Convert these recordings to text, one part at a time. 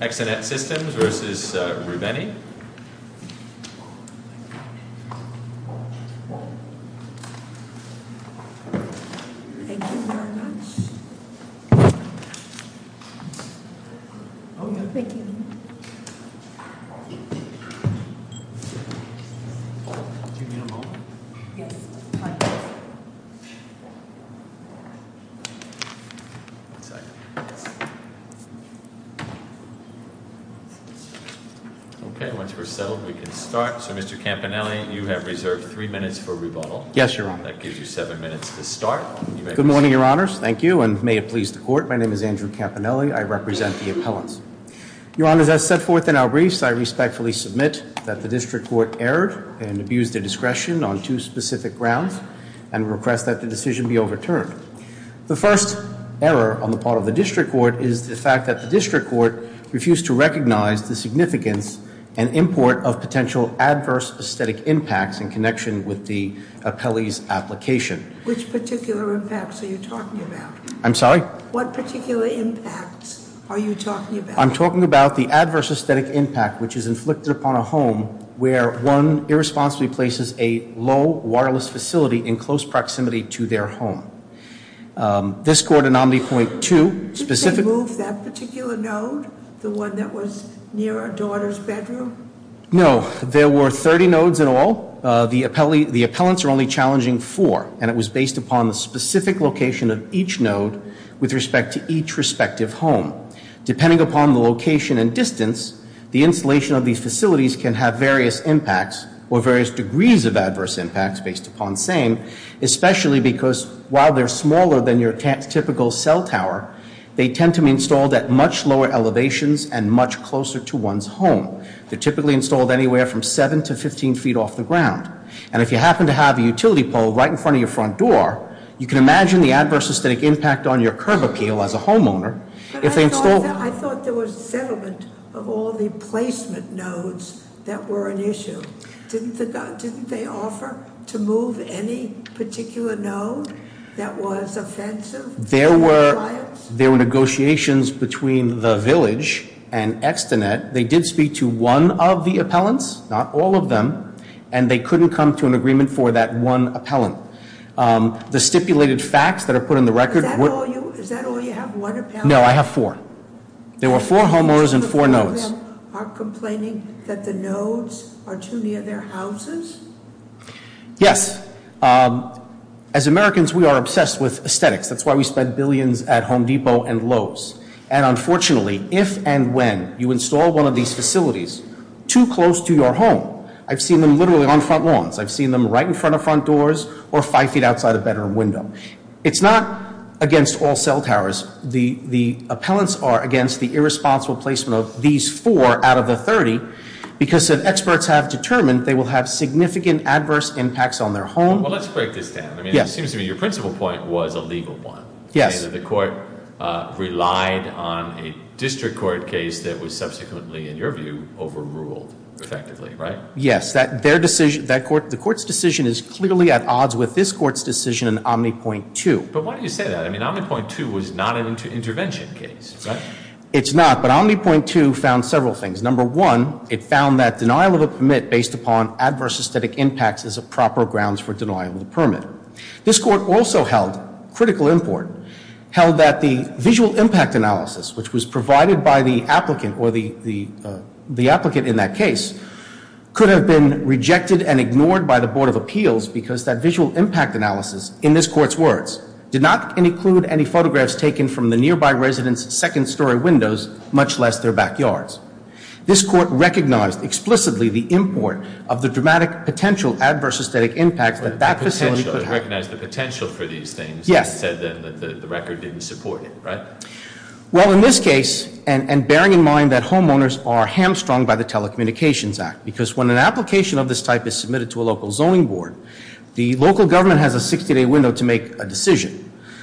Exenet Systems v. Rubenny Okay, once we're settled, we can start. So, Mr. Campanelli, you have reserved three minutes for rebuttal. Yes, Your Honor. That gives you seven minutes to start. Good morning, Your Honors. Thank you, and may it please the Court. My name is Andrew Campanelli. I represent the appellants. Your Honors, as set forth in our briefs, I respectfully submit that the District Court erred and abused their discretion on two specific grounds and request that the decision be overturned. The first error on the part of the District Court is the fact that the District Court refused to recognize the significance and import of potential adverse aesthetic impacts in connection with the appellee's application. Which particular impacts are you talking about? I'm sorry? What particular impacts are you talking about? I'm talking about the adverse aesthetic impact which is inflicted upon a home where one irresponsibly places a low, wireless facility in close proximity to their home. This Court, Anomaly Point 2... Did they move that particular node, the one that was near a daughter's bedroom? No, there were 30 nodes in all. The appellants are only challenging four, and it was based upon the specific location of each node with respect to each respective home. Depending upon the location and distance, the installation of these facilities can have various impacts or various degrees of adverse impacts based upon saying, especially because while they're smaller than your typical cell tower, they tend to be installed at much lower elevations and much closer to one's home. They're typically installed anywhere from 7 to 15 feet off the ground. And if you happen to have a utility pole right in front of your front door, you can imagine the adverse aesthetic impact on your curb appeal as a homeowner But I thought there was a settlement of all the placement nodes that were an issue. Didn't they offer to move any particular node that was offensive? There were negotiations between the village and Extinet. They did speak to one of the appellants, not all of them, and they couldn't come to an agreement for that one appellant. The stipulated facts that are put in the record... No, I have four. There were four homeowners and four nodes. Yes. As Americans, we are obsessed with aesthetics. That's why we spend billions at Home Depot and Lowe's. And unfortunately, if and when you install one of these facilities too close to your home, I've seen them literally on front lawns. I've seen them right in front of front doors or five feet outside a bedroom window. It's not against all cell towers. The appellants are against the irresponsible placement of these four out of the 30 because if experts have determined they will have significant adverse impacts on their home... Well, let's break this down. I mean, it seems to me your principal point was a legal one. Yes. The court relied on a district court case that was subsequently, in your view, overruled effectively, right? Yes. The court's decision is clearly at odds with this court's decision in Omni.2. But why do you say that? I mean, Omni.2 was not an intervention case, right? It's not, but Omni.2 found several things. Number one, it found that denial of a permit based upon adverse aesthetic impacts is a proper grounds for denial of the permit. This court also held, critical import, held that the visual impact analysis, which was provided by the applicant or the applicant in that case, could have been rejected and ignored by the Board of Appeals because that visual impact analysis, in this court's words, did not include any photographs taken from the nearby residents' second story windows, much less their backyards. This court recognized explicitly the import of the dramatic potential adverse aesthetic impact that that facility could have. It recognized the potential for these things. Yes. It said then that the record didn't support it, right? Well, in this case, and bearing in mind that homeowners are hamstrung by the Telecommunications Act because when an application of this type is submitted to a local zoning board, the local government has a 60-day window to make a decision.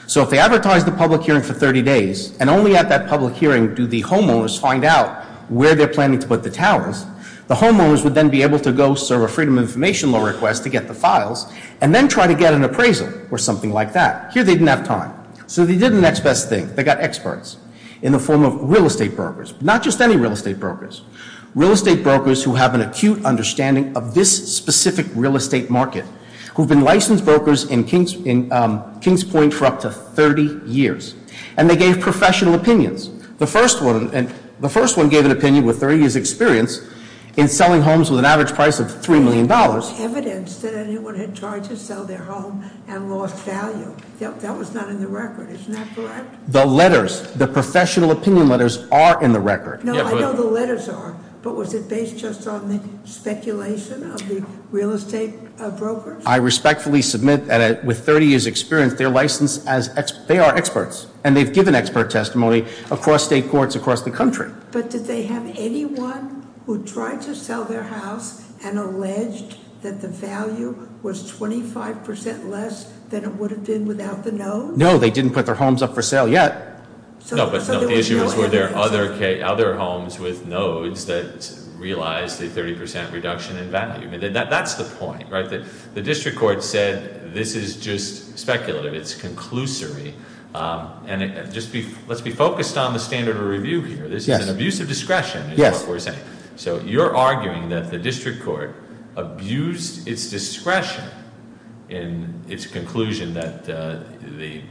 So if they advertise the public hearing for 30 days and only at that public hearing do the homeowners find out where they're planning to put the towers, the homeowners would then be able to go serve a freedom of information law request to get the files and then try to get an appraisal or something like that. Here they didn't have time. So they did the next best thing. They got experts in the form of real estate brokers. Not just any real estate brokers. Real estate brokers who have an acute understanding of this specific real estate market who've been licensed brokers in Kings Point for up to 30 years. And they gave professional opinions. The first one gave an opinion with 30 years' experience in selling homes with an average price of $3 million. There was evidence that anyone had tried to sell their home and lost value. That was not in the record. Isn't that correct? The letters, the professional opinion letters are in the record. No, I know the letters are. But was it based just on the speculation of the real estate brokers? I respectfully submit that with 30 years' experience, they are experts. And they've given expert testimony across state courts across the country. But did they have anyone who tried to sell their house and alleged that the value was 25% less than it would have been without the nodes? No, they didn't put their homes up for sale yet. No, but the issue is were there other homes with nodes that realized the 30% reduction in value? That's the point, right? The district court said this is just speculative. It's conclusory. And let's be focused on the standard of review here. This is an abuse of discretion is what we're saying. So you're arguing that the district court abused its discretion in its conclusion that the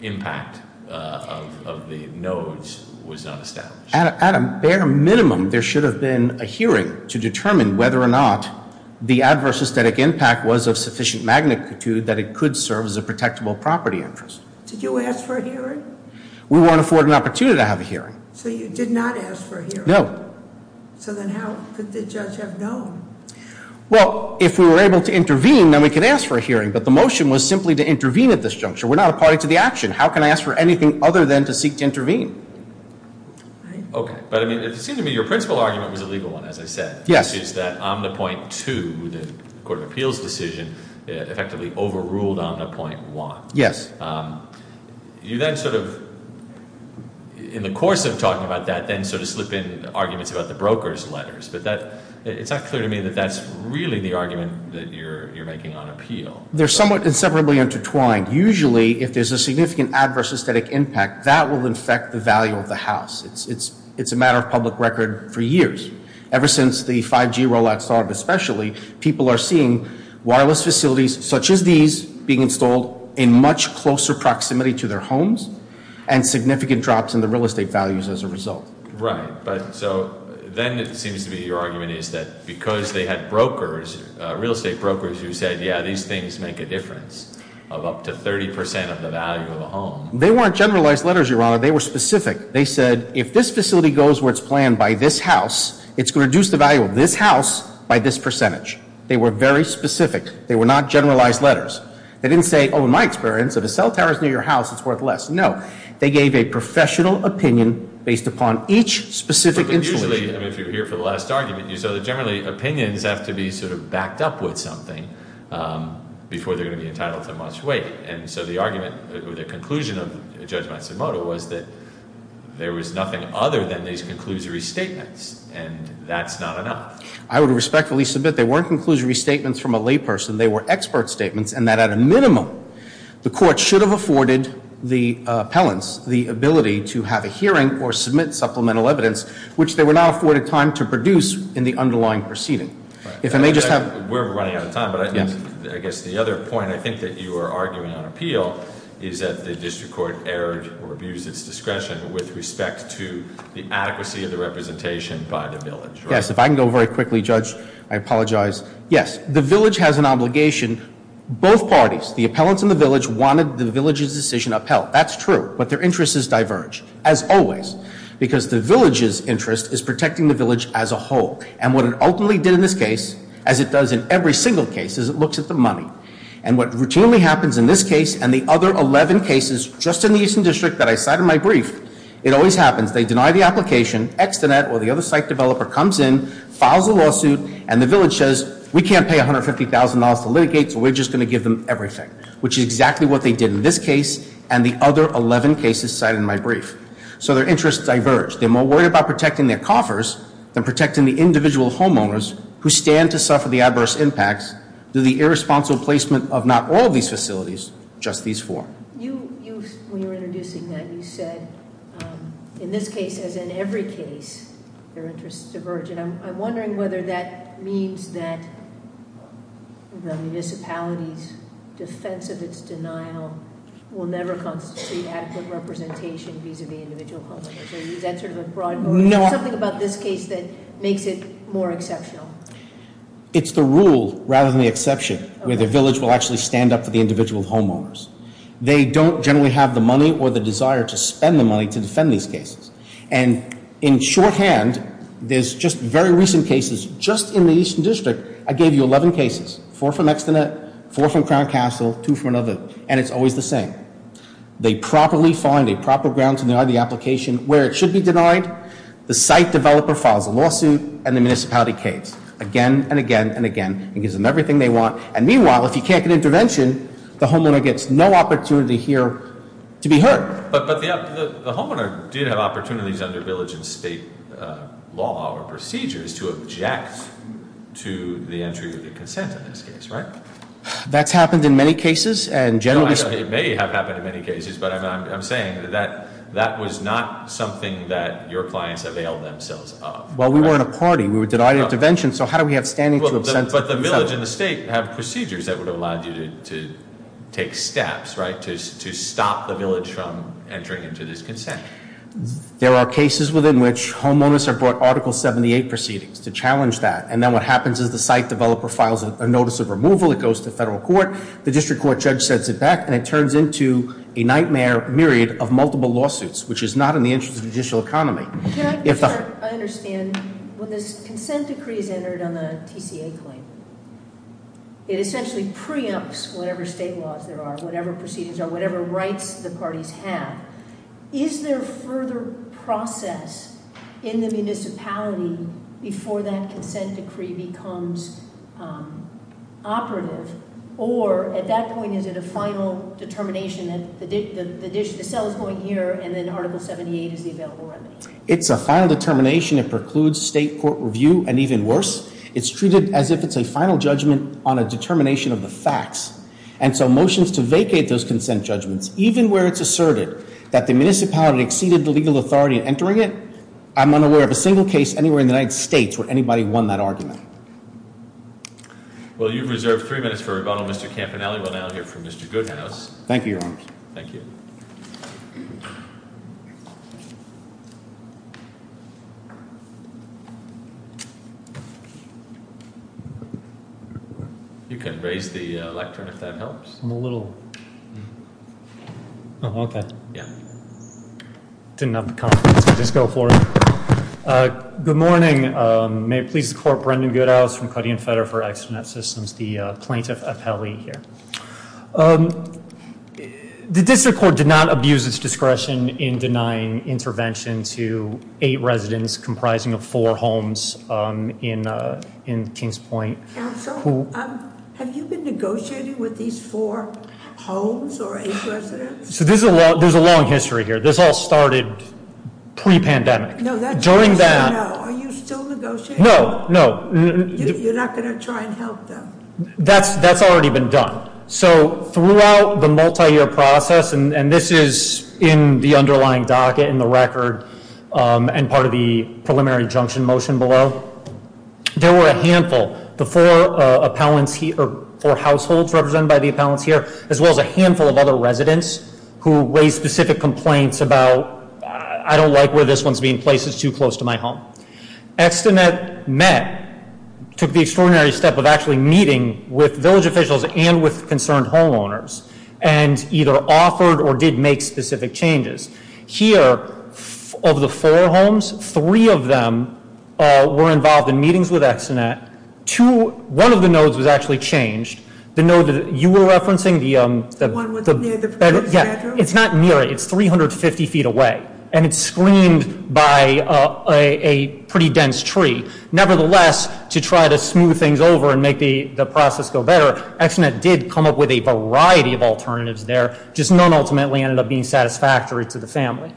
impact of the nodes was not established. At a bare minimum, there should have been a hearing to determine whether or not the adverse aesthetic impact was of sufficient magnitude that it could serve as a protectable property interest. Did you ask for a hearing? We weren't afforded an opportunity to have a hearing. So you did not ask for a hearing? No. So then how could the judge have known? Well, if we were able to intervene, then we could ask for a hearing. But the motion was simply to intervene at this juncture. We're not a party to the action. How can I ask for anything other than to seek to intervene? Okay. But it seemed to me your principal argument was a legal one, as I said. Yes. Which is that Omnipoint 2, the Court of Appeals decision, effectively overruled Omnipoint 1. Yes. You then sort of, in the course of talking about that, then sort of slip in arguments about the broker's letters. But it's not clear to me that that's really the argument that you're making on appeal. They're somewhat inseparably intertwined. Usually, if there's a significant adverse aesthetic impact, that will infect the value of the house. It's a matter of public record for years. Ever since the 5G rollout started especially, people are seeing wireless facilities such as these being installed in much closer proximity to their homes and significant drops in the real estate values as a result. Right. So then it seems to me your argument is that because they had brokers, real estate brokers, who said, yeah, these things make a difference of up to 30% of the value of a home. They weren't generalized letters, Your Honor. They were specific. They said, if this facility goes where it's planned by this house, it's going to reduce the value of this house by this percentage. They were very specific. They were not generalized letters. They didn't say, oh, in my experience, if a cell tower is near your house, it's worth less. No. They gave a professional opinion based upon each specific institution. Usually, if you're here for the last argument, you saw that generally opinions have to be sort of backed up with something before they're going to be entitled to much weight. And so the argument or the conclusion of Judge Matsumoto was that there was nothing other than these conclusory statements. And that's not enough. I would respectfully submit they weren't conclusory statements from a layperson. They were expert statements and that at a minimum, the court should have afforded the appellants the ability to have a hearing or submit supplemental evidence, which they were not afforded time to produce in the underlying proceeding. If I may just have- We're running out of time. But I guess the other point I think that you are arguing on appeal is that the district court erred or abused its discretion with respect to the adequacy of the representation by the village. Yes. If I can go very quickly, Judge, I apologize. Yes. The village has an obligation. Both parties, the appellants and the village, wanted the village's decision upheld. That's true. But their interests diverge, as always, because the village's interest is protecting the village as a whole. And what it ultimately did in this case, as it does in every single case, is it looks at the money. And what routinely happens in this case and the other 11 cases just in the Eastern District that I cited in my brief, it always happens. They deny the application. Extinet or the other site developer comes in, files a lawsuit, and the village says, we can't pay $150,000 to litigate, so we're just going to give them everything. Which is exactly what they did in this case and the other 11 cases cited in my brief. So their interests diverge. They're more worried about protecting their coffers than protecting the individual homeowners who stand to suffer the adverse impacts due to the irresponsible placement of not all these facilities, just these four. When you were introducing that, you said, in this case, as in every case, their interests diverge. And I'm wondering whether that means that the municipality's defense of its denial will never constitute adequate representation vis-a-vis individual homeowners. Something about this case that makes it more exceptional. It's the rule rather than the exception where the village will actually stand up for the individual homeowners. They don't generally have the money or the desire to spend the money to defend these cases. And in shorthand, there's just very recent cases just in the Eastern District. I gave you 11 cases, four from Extinet, four from Crown Castle, two from another, and it's always the same. They properly find a proper ground to deny the application where it should be denied. The site developer files a lawsuit and the municipality caves again and again and again and gives them everything they want. And meanwhile, if you can't get intervention, the homeowner gets no opportunity here to be heard. But the homeowner did have opportunities under village and state law or procedures to object to the entry of the consent in this case, right? That's happened in many cases. It may have happened in many cases, but I'm saying that that was not something that your clients availed themselves of. Well, we weren't a party. We were denied intervention, so how do we have standing to obsess? But the village and the state have procedures that would have allowed you to take steps, right, to stop the village from entering into this consent. There are cases within which homeowners have brought Article 78 proceedings to challenge that. And then what happens is the site developer files a notice of removal. It goes to federal court. The district court judge sets it back, and it turns into a nightmare myriad of multiple lawsuits, which is not in the interest of the judicial economy. I understand when this consent decree is entered on the TCA claim, it essentially preempts whatever state laws there are, whatever proceedings are, whatever rights the parties have. Is there further process in the municipality before that consent decree becomes operative? Or at that point, is it a final determination that the sale is going here, and then Article 78 is the available remedy? It's a final determination. It precludes state court review, and even worse, it's treated as if it's a final judgment on a determination of the facts. And so motions to vacate those consent judgments, even where it's asserted that the municipality exceeded the legal authority in entering it, I'm unaware of a single case anywhere in the United States where anybody won that argument. Well, you've reserved three minutes for rebuttal, Mr. Campanelli. We'll now hear from Mr. Goodhouse. Thank you, Your Honor. Thank you. Thank you. You can raise the lectern if that helps. I'm a little. Oh, okay. Yeah. Didn't have the confidence to just go for it. Good morning. May it please the court, Brendan Goodhouse from Cuddy and Federer for Externet Systems, the plaintiff appellee here. The district court did not abuse its discretion in denying intervention to eight residents comprising of four homes in Kings Point. Counsel, have you been negotiating with these four homes or eight residents? So there's a long history here. This all started pre-pandemic. No, that's- During that- No, are you still negotiating? No, no. You're not going to try and help them? That's already been done. So throughout the multi-year process, and this is in the underlying docket in the record and part of the preliminary injunction motion below, there were a handful, the four appellants here, or four households represented by the appellants here, as well as a handful of other residents who raised specific complaints about, I don't like where this one's being placed, it's too close to my home. Externet met, took the extraordinary step of actually meeting with village officials and with concerned homeowners, and either offered or did make specific changes. Here, of the four homes, three of them were involved in meetings with Externet. Two, one of the nodes was actually changed. The node that you were referencing, the- The one with the bedroom? Yeah, it's not near it. It's 350 feet away, and it's screened by a pretty dense tree. Nevertheless, to try to smooth things over and make the process go better, Externet did come up with a variety of alternatives there, just none ultimately ended up being satisfactory to the family.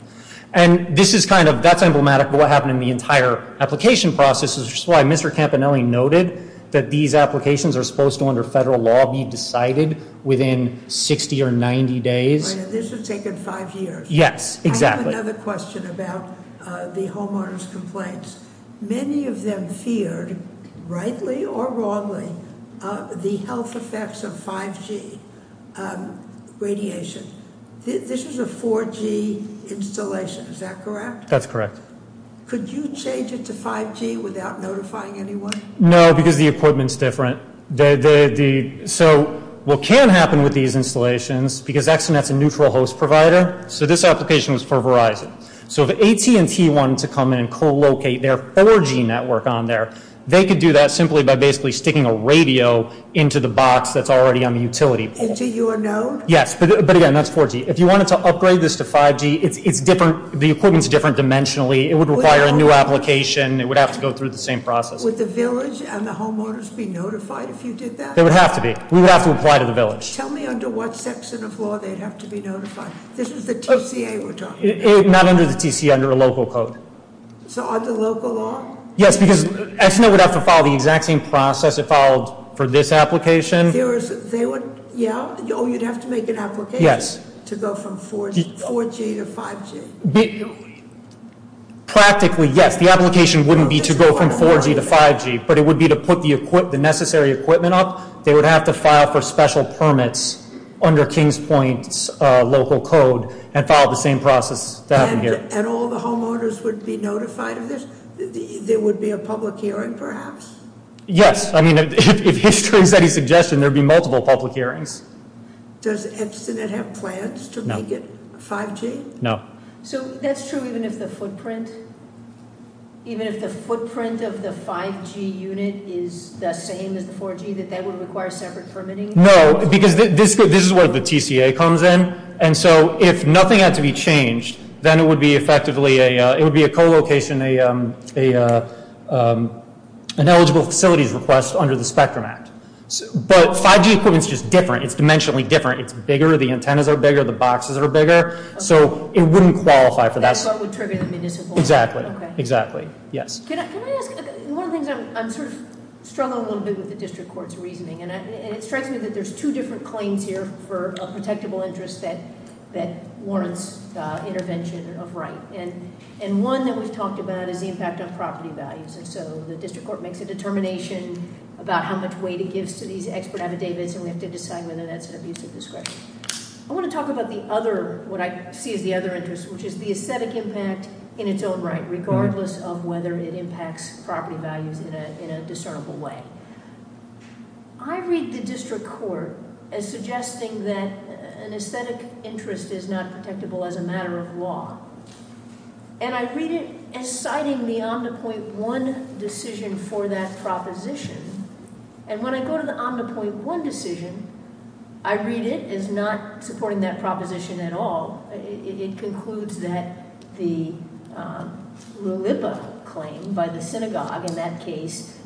And this is kind of, that's emblematic of what happened in the entire application process, which is why Mr. Campanelli noted that these applications are supposed to, under federal law, be decided within 60 or 90 days. Right, and this has taken five years. Yes, exactly. I have another question about the homeowners' complaints. Many of them feared, rightly or wrongly, the health effects of 5G radiation. This is a 4G installation, is that correct? That's correct. Could you change it to 5G without notifying anyone? No, because the equipment's different. So, what can happen with these installations, because Externet's a neutral host provider, so this application was for Verizon. So, if AT&T wanted to come in and co-locate their 4G network on there, they could do that simply by basically sticking a radio into the box that's already on the utility pole. Into your node? Yes, but again, that's 4G. If you wanted to upgrade this to 5G, it's different, the equipment's different dimensionally. It would require a new application. It would have to go through the same process. Would the village and the homeowners be notified if you did that? They would have to be. We would have to apply to the village. Tell me under what section of law they'd have to be notified. This is the TCA we're talking about. Not under the TCA, under a local code. So, under local law? Yes, because Externet would have to follow the exact same process it followed for this application. Oh, you'd have to make an application to go from 4G to 5G? Practically, yes. The application wouldn't be to go from 4G to 5G, but it would be to put the necessary equipment up. They would have to file for special permits under King's Point's local code and follow the same process. And all the homeowners would be notified of this? There would be a public hearing, perhaps? Yes. I mean, if history is any suggestion, there would be multiple public hearings. Does Externet have plans to make it 5G? No. So, that's true even if the footprint of the 5G unit is the same as the 4G, that that would require separate permitting? No, because this is where the TCA comes in. And so, if nothing had to be changed, then it would be effectively a co-location, an eligible facilities request under the Spectrum Act. But 5G equipment is just different. It's dimensionally different. It's bigger. The antennas are bigger. The boxes are bigger. So, it wouldn't qualify for that. That's what would trigger the municipal? Exactly. Exactly. Yes. Can I ask? One of the things I'm sort of struggling a little bit with the district court's reasoning, and it strikes me that there's two different claims here for a protectable interest that warrants intervention of right. And one that we've talked about is the impact on property values. And so, the district court makes a determination about how much weight it gives to these expert affidavits, and we have to decide whether that's an abuse of discretion. I want to talk about the other, what I see as the other interest, which is the aesthetic impact in its own right, regardless of whether it impacts property values in a discernible way. I read the district court as suggesting that an aesthetic interest is not protectable as a matter of law. And I read it as citing the OmniPoint One decision for that proposition. And when I go to the OmniPoint One decision, I read it as not supporting that proposition at all. It concludes that the Lulipa claim by the synagogue in that case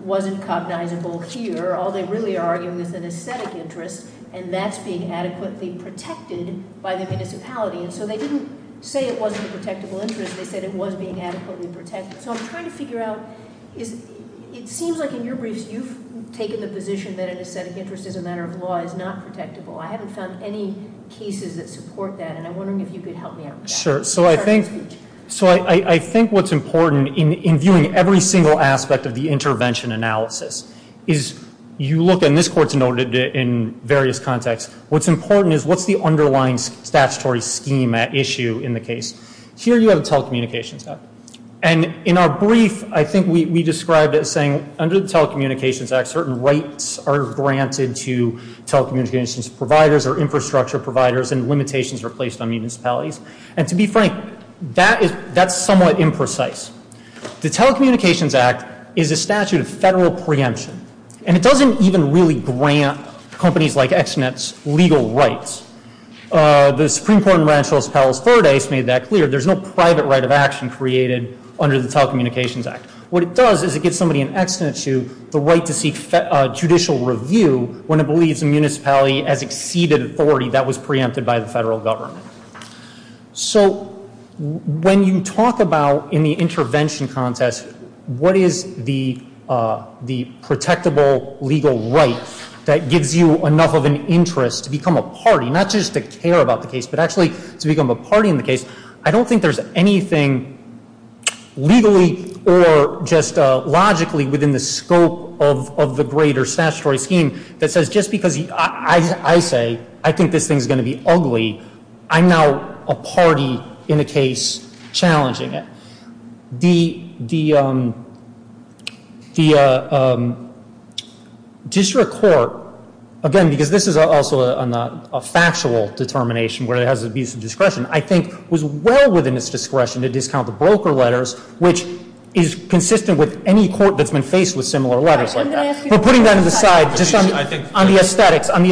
wasn't cognizable here. All they really are arguing is an aesthetic interest, and that's being adequately protected by the municipality. And so, they didn't say it wasn't a protectable interest. They said it was being adequately protected. So, I'm trying to figure out, it seems like in your briefs you've taken the position that an aesthetic interest as a matter of law is not protectable. I haven't found any cases that support that, and I'm wondering if you could help me out with that. Sure. So, I think what's important in viewing every single aspect of the intervention analysis is you look, and this court's noted it in various contexts, what's important is what's the underlying statutory scheme at issue in the case. Here you have the Telecommunications Act. And in our brief, I think we described it as saying under the Telecommunications Act, certain rights are granted to telecommunications providers or infrastructure providers, and limitations are placed on municipalities. And to be frank, that's somewhat imprecise. The Telecommunications Act is a statute of federal preemption, and it doesn't even really grant companies like ExNet's legal rights. The Supreme Court in Rancho Los Palos Verdes made that clear. There's no private right of action created under the Telecommunications Act. What it does is it gives somebody in ExNet's view the right to seek judicial review when it believes a municipality has exceeded authority that was preempted by the federal government. So, when you talk about in the intervention context, what is the protectable legal right that gives you enough of an interest to become a party, not just to care about the case, but actually to become a party in the case, I don't think there's anything legally or just logically within the scope of the greater statutory scheme that says just because I say I think this thing's going to be ugly, I'm now a party in a case challenging it. The district court, again, because this is also a factual determination where it has abuse of discretion, I think was well within its discretion to discount the broker letters, which is consistent with any court that's been faced with similar letters like that. We're putting that on the side, just on the aesthetics. On the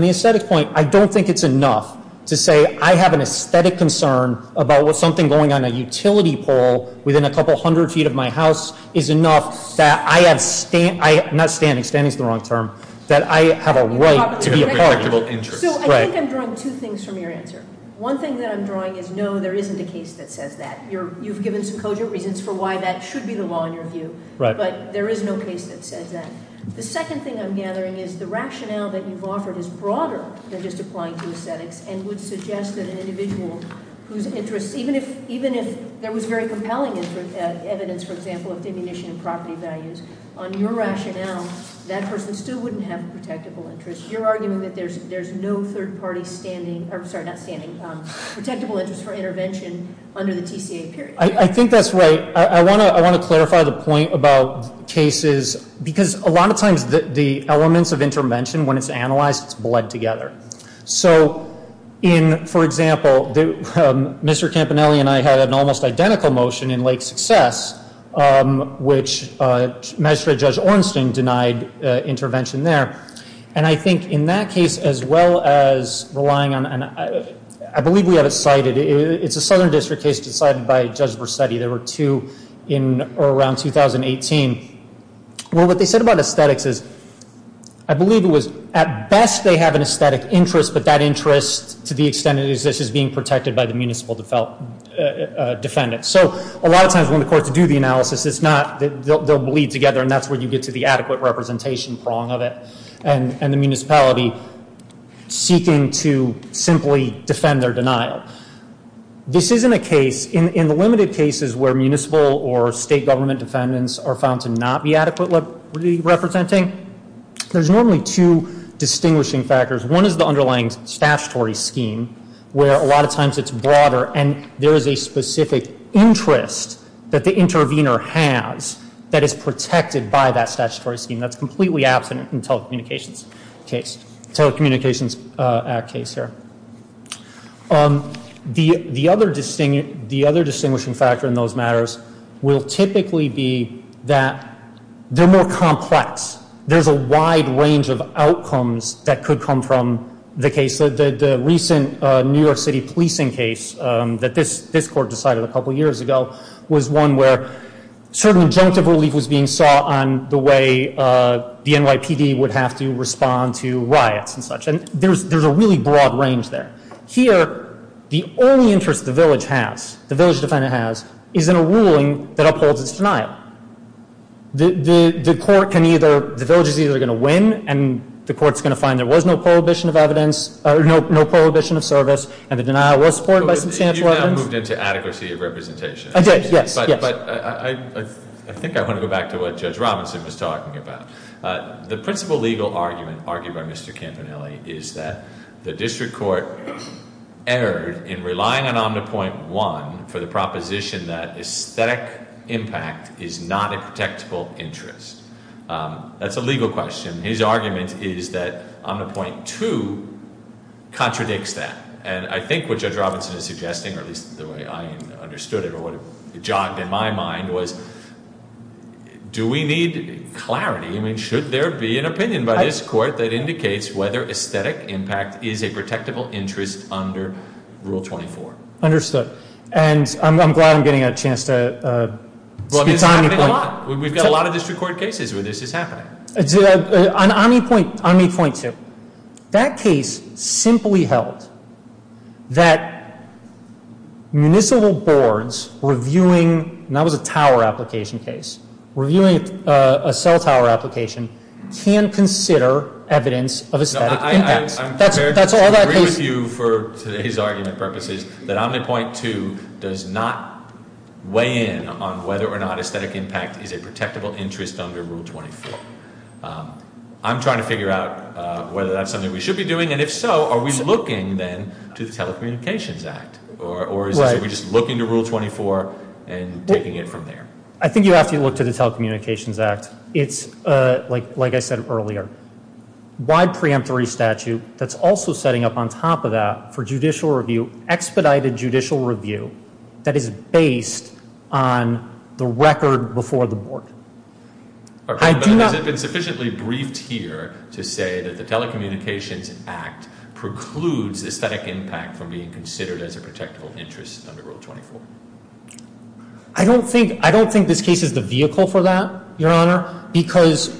aesthetics point, I don't think it's enough to say I have an aesthetic concern about something going on a utility pole within a couple hundred feet of my house is enough that I have, not standing, standing's the wrong term, that I have a right to be a party. So, I think I'm drawing two things from your answer. One thing that I'm drawing is no, there isn't a case that says that. You've given some cogent reasons for why that should be the law in your view, but there is no case that says that. The second thing I'm gathering is the rationale that you've offered is broader than just applying to aesthetics and would suggest that an individual whose interest, even if there was very compelling evidence, for example, of diminishing property values, on your rationale, that person still wouldn't have a protectable interest. You're arguing that there's no third party standing, or sorry, not standing, protectable interest for intervention under the TCA period. I think that's right. I want to clarify the point about cases, because a lot of times the elements of intervention, when it's analyzed, it's bled together. So, in, for example, Mr. Campanelli and I had an almost identical motion in Lake Success, which magistrate Judge Ornstein denied intervention there. And I think in that case, as well as relying on, I believe we have it cited, it's a southern district case decided by Judge Versetti. There were two in or around 2018. Well, what they said about aesthetics is, I believe it was at best they have an aesthetic interest, but that interest, to the extent it exists, is being protected by the municipal defendant. So, a lot of times when the courts do the analysis, it's not, they'll bleed together, and that's where you get to the adequate representation prong of it and the municipality seeking to simply defend their denial. This isn't a case, in the limited cases where municipal or state government defendants are found to not be adequately representing, there's normally two distinguishing factors. One is the underlying statutory scheme, where a lot of times it's broader, and there is a specific interest that the intervener has that is protected by that statutory scheme. That's completely absent in telecommunications case, Telecommunications Act case here. The other distinguishing factor in those matters will typically be that they're more complex. There's a wide range of outcomes that could come from the case. The recent New York City policing case that this court decided a couple years ago was one where certain injunctive relief was being sought on the way the NYPD would have to respond to riots and such, and there's a really broad range there. Here, the only interest the village has, the village defendant has, is in a ruling that upholds its denial. The court can either, the village is either going to win, and the court's going to find there was no prohibition of evidence, no prohibition of service, and the denial was supported by substantial evidence. You've now moved into adequacy of representation. I did, yes. But I think I want to go back to what Judge Robinson was talking about. The principal legal argument argued by Mr. Campanelli is that the district court erred in relying on Omnipoint 1 for the proposition that aesthetic impact is not a protectable interest. That's a legal question. His argument is that Omnipoint 2 contradicts that, and I think what Judge Robinson is suggesting, or at least the way I understood it, or what jogged in my mind, was do we need clarity? I mean, should there be an opinion by this court that indicates whether aesthetic impact is a protectable interest under Rule 24? Understood, and I'm glad I'm getting a chance to spend time with you. Well, I mean, it's happening a lot. We've got a lot of district court cases where this is happening. On Omnipoint 2, that case simply held that municipal boards reviewing, and that was a tower application case, reviewing a cell tower application can consider evidence of aesthetic impact. I'm prepared to agree with you for today's argument purposes that Omnipoint 2 does not weigh in on whether or not aesthetic impact is a protectable interest under Rule 24. I'm trying to figure out whether that's something we should be doing, and if so, are we looking then to the Telecommunications Act, or are we just looking to Rule 24 and taking it from there? I think you have to look to the Telecommunications Act. It's, like I said earlier, wide preemptory statute that's also setting up on top of that for judicial review, expedited judicial review that is based on the record before the board. Has it been sufficiently briefed here to say that the Telecommunications Act precludes aesthetic impact from being considered as a protectable interest under Rule 24? I don't think this case is the vehicle for that, Your Honor, because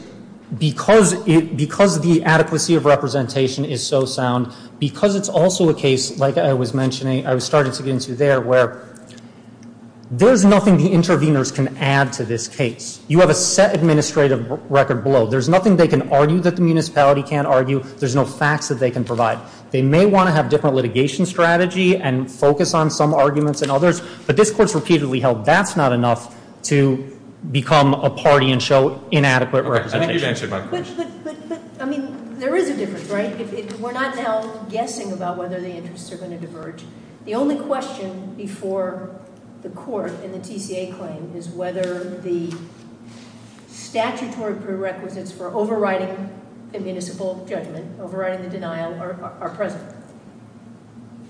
the adequacy of representation is so sound, because it's also a case, like I was mentioning, I was starting to get into there, where there's nothing the interveners can add to this case. You have a set administrative record below. There's nothing they can argue that the municipality can't argue. There's no facts that they can provide. They may want to have different litigation strategy and focus on some arguments and others, but this Court's repeatedly held that's not enough to become a party and show inadequate representation. I think you've answered my question. But, I mean, there is a difference, right? We're not now guessing about whether the interests are going to diverge. The only question before the Court in the TCA claim is whether the statutory prerequisites for overriding a municipal judgment, overriding the denial, are present.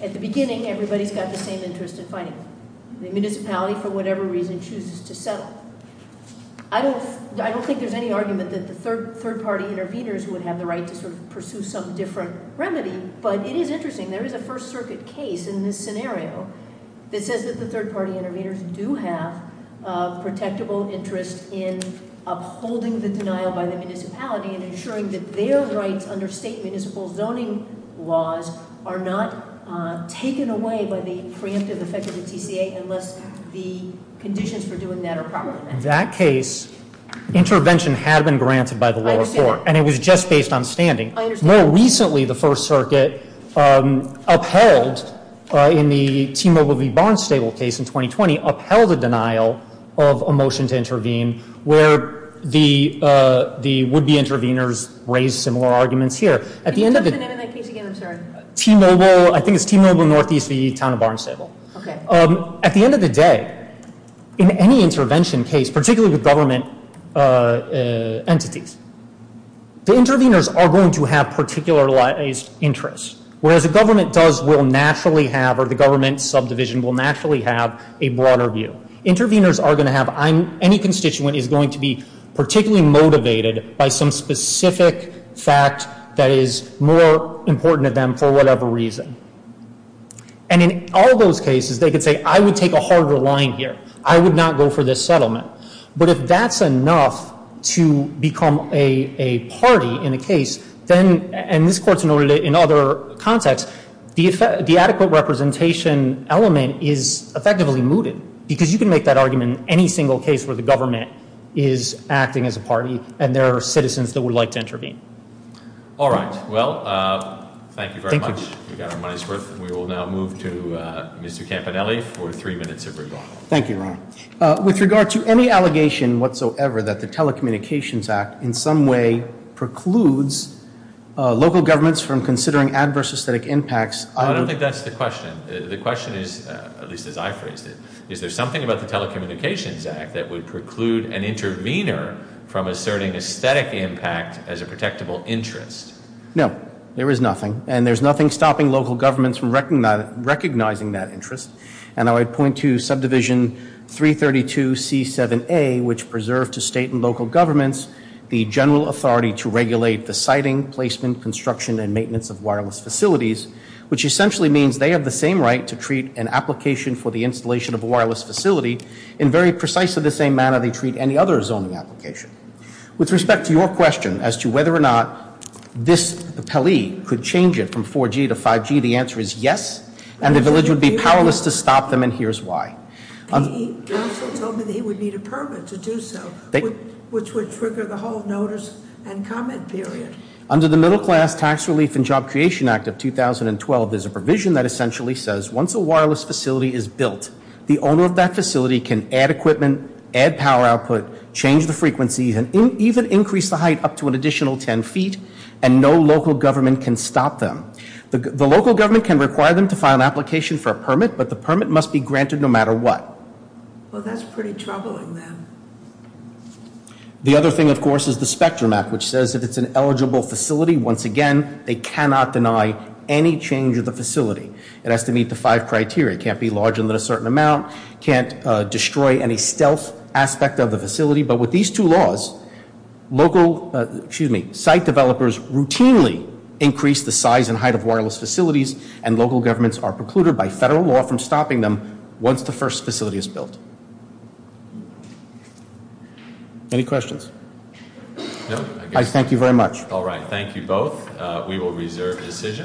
At the beginning, everybody's got the same interest in fighting. The municipality, for whatever reason, chooses to settle. I don't think there's any argument that the third-party interveners would have the right to sort of pursue some different remedy, but it is interesting, there is a First Circuit case in this scenario that says that the third-party interveners do have a protectable interest in upholding the denial by the municipality and ensuring that their rights under state municipal zoning laws are not taken away by the preemptive effect of the TCA unless the conditions for doing that are proper. In that case, intervention had been granted by the lower court, and it was just based on standing. I understand. More recently, the First Circuit upheld, in the T-Mobile v. Barnstable case in 2020, upheld the denial of a motion to intervene where the would-be interveners raised similar arguments here. Can you touch on that case again? I'm sorry. T-Mobile, I think it's T-Mobile Northeast v. Town of Barnstable. Okay. At the end of the day, in any intervention case, particularly with government entities, the interveners are going to have particularized interests, whereas the government does will naturally have, or the government subdivision will naturally have, a broader view. Interveners are going to have, any constituent is going to be particularly motivated by some specific fact that is more important to them for whatever reason. And in all those cases, they could say, I would take a harder line here. I would not go for this settlement. But if that's enough to become a party in a case, and this court's noted it in other contexts, the adequate representation element is effectively mooted, because you can make that argument in any single case where the government is acting as a party and there are citizens that would like to intervene. All right. Well, thank you very much. We've got our money's worth, and we will now move to Mr. Campanelli for three minutes of rebuttal. Thank you, Ron. With regard to any allegation whatsoever that the Telecommunications Act in some way precludes local governments from considering adverse aesthetic impacts, I don't think that's the question. The question is, at least as I phrased it, is there something about the Telecommunications Act that would preclude an intervener from asserting aesthetic impact as a protectable interest? No. There is nothing. And there's nothing stopping local governments from recognizing that interest. And I would point to Subdivision 332C7A, which preserved to state and local governments the general authority to regulate the siting, placement, construction, and maintenance of wireless facilities, which essentially means they have the same right to treat an application for the installation of a wireless facility in very precisely the same manner they treat any other zoning application. With respect to your question as to whether or not this appellee could change it from 4G to 5G, the answer is yes, and the village would be powerless to stop them, and here's why. He also told me that he would need a permit to do so, which would trigger the whole notice and comment period. Under the Middle Class Tax Relief and Job Creation Act of 2012, there's a provision that essentially says once a wireless facility is built, the owner of that facility can add equipment, add power output, change the frequency, and even increase the height up to an additional 10 feet, and no local government can stop them. The local government can require them to file an application for a permit, but the permit must be granted no matter what. Well, that's pretty troubling, then. The other thing, of course, is the Spectrum Act, which says if it's an eligible facility, once again, they cannot deny any change of the facility. It has to meet the five criteria. It can't be larger than a certain amount, can't destroy any stealth aspect of the facility, but with these two laws, site developers routinely increase the size and height of wireless facilities, and local governments are precluded by federal law from stopping them once the first facility is built. Any questions? No. I thank you very much. All right, thank you both. We will reserve decisions.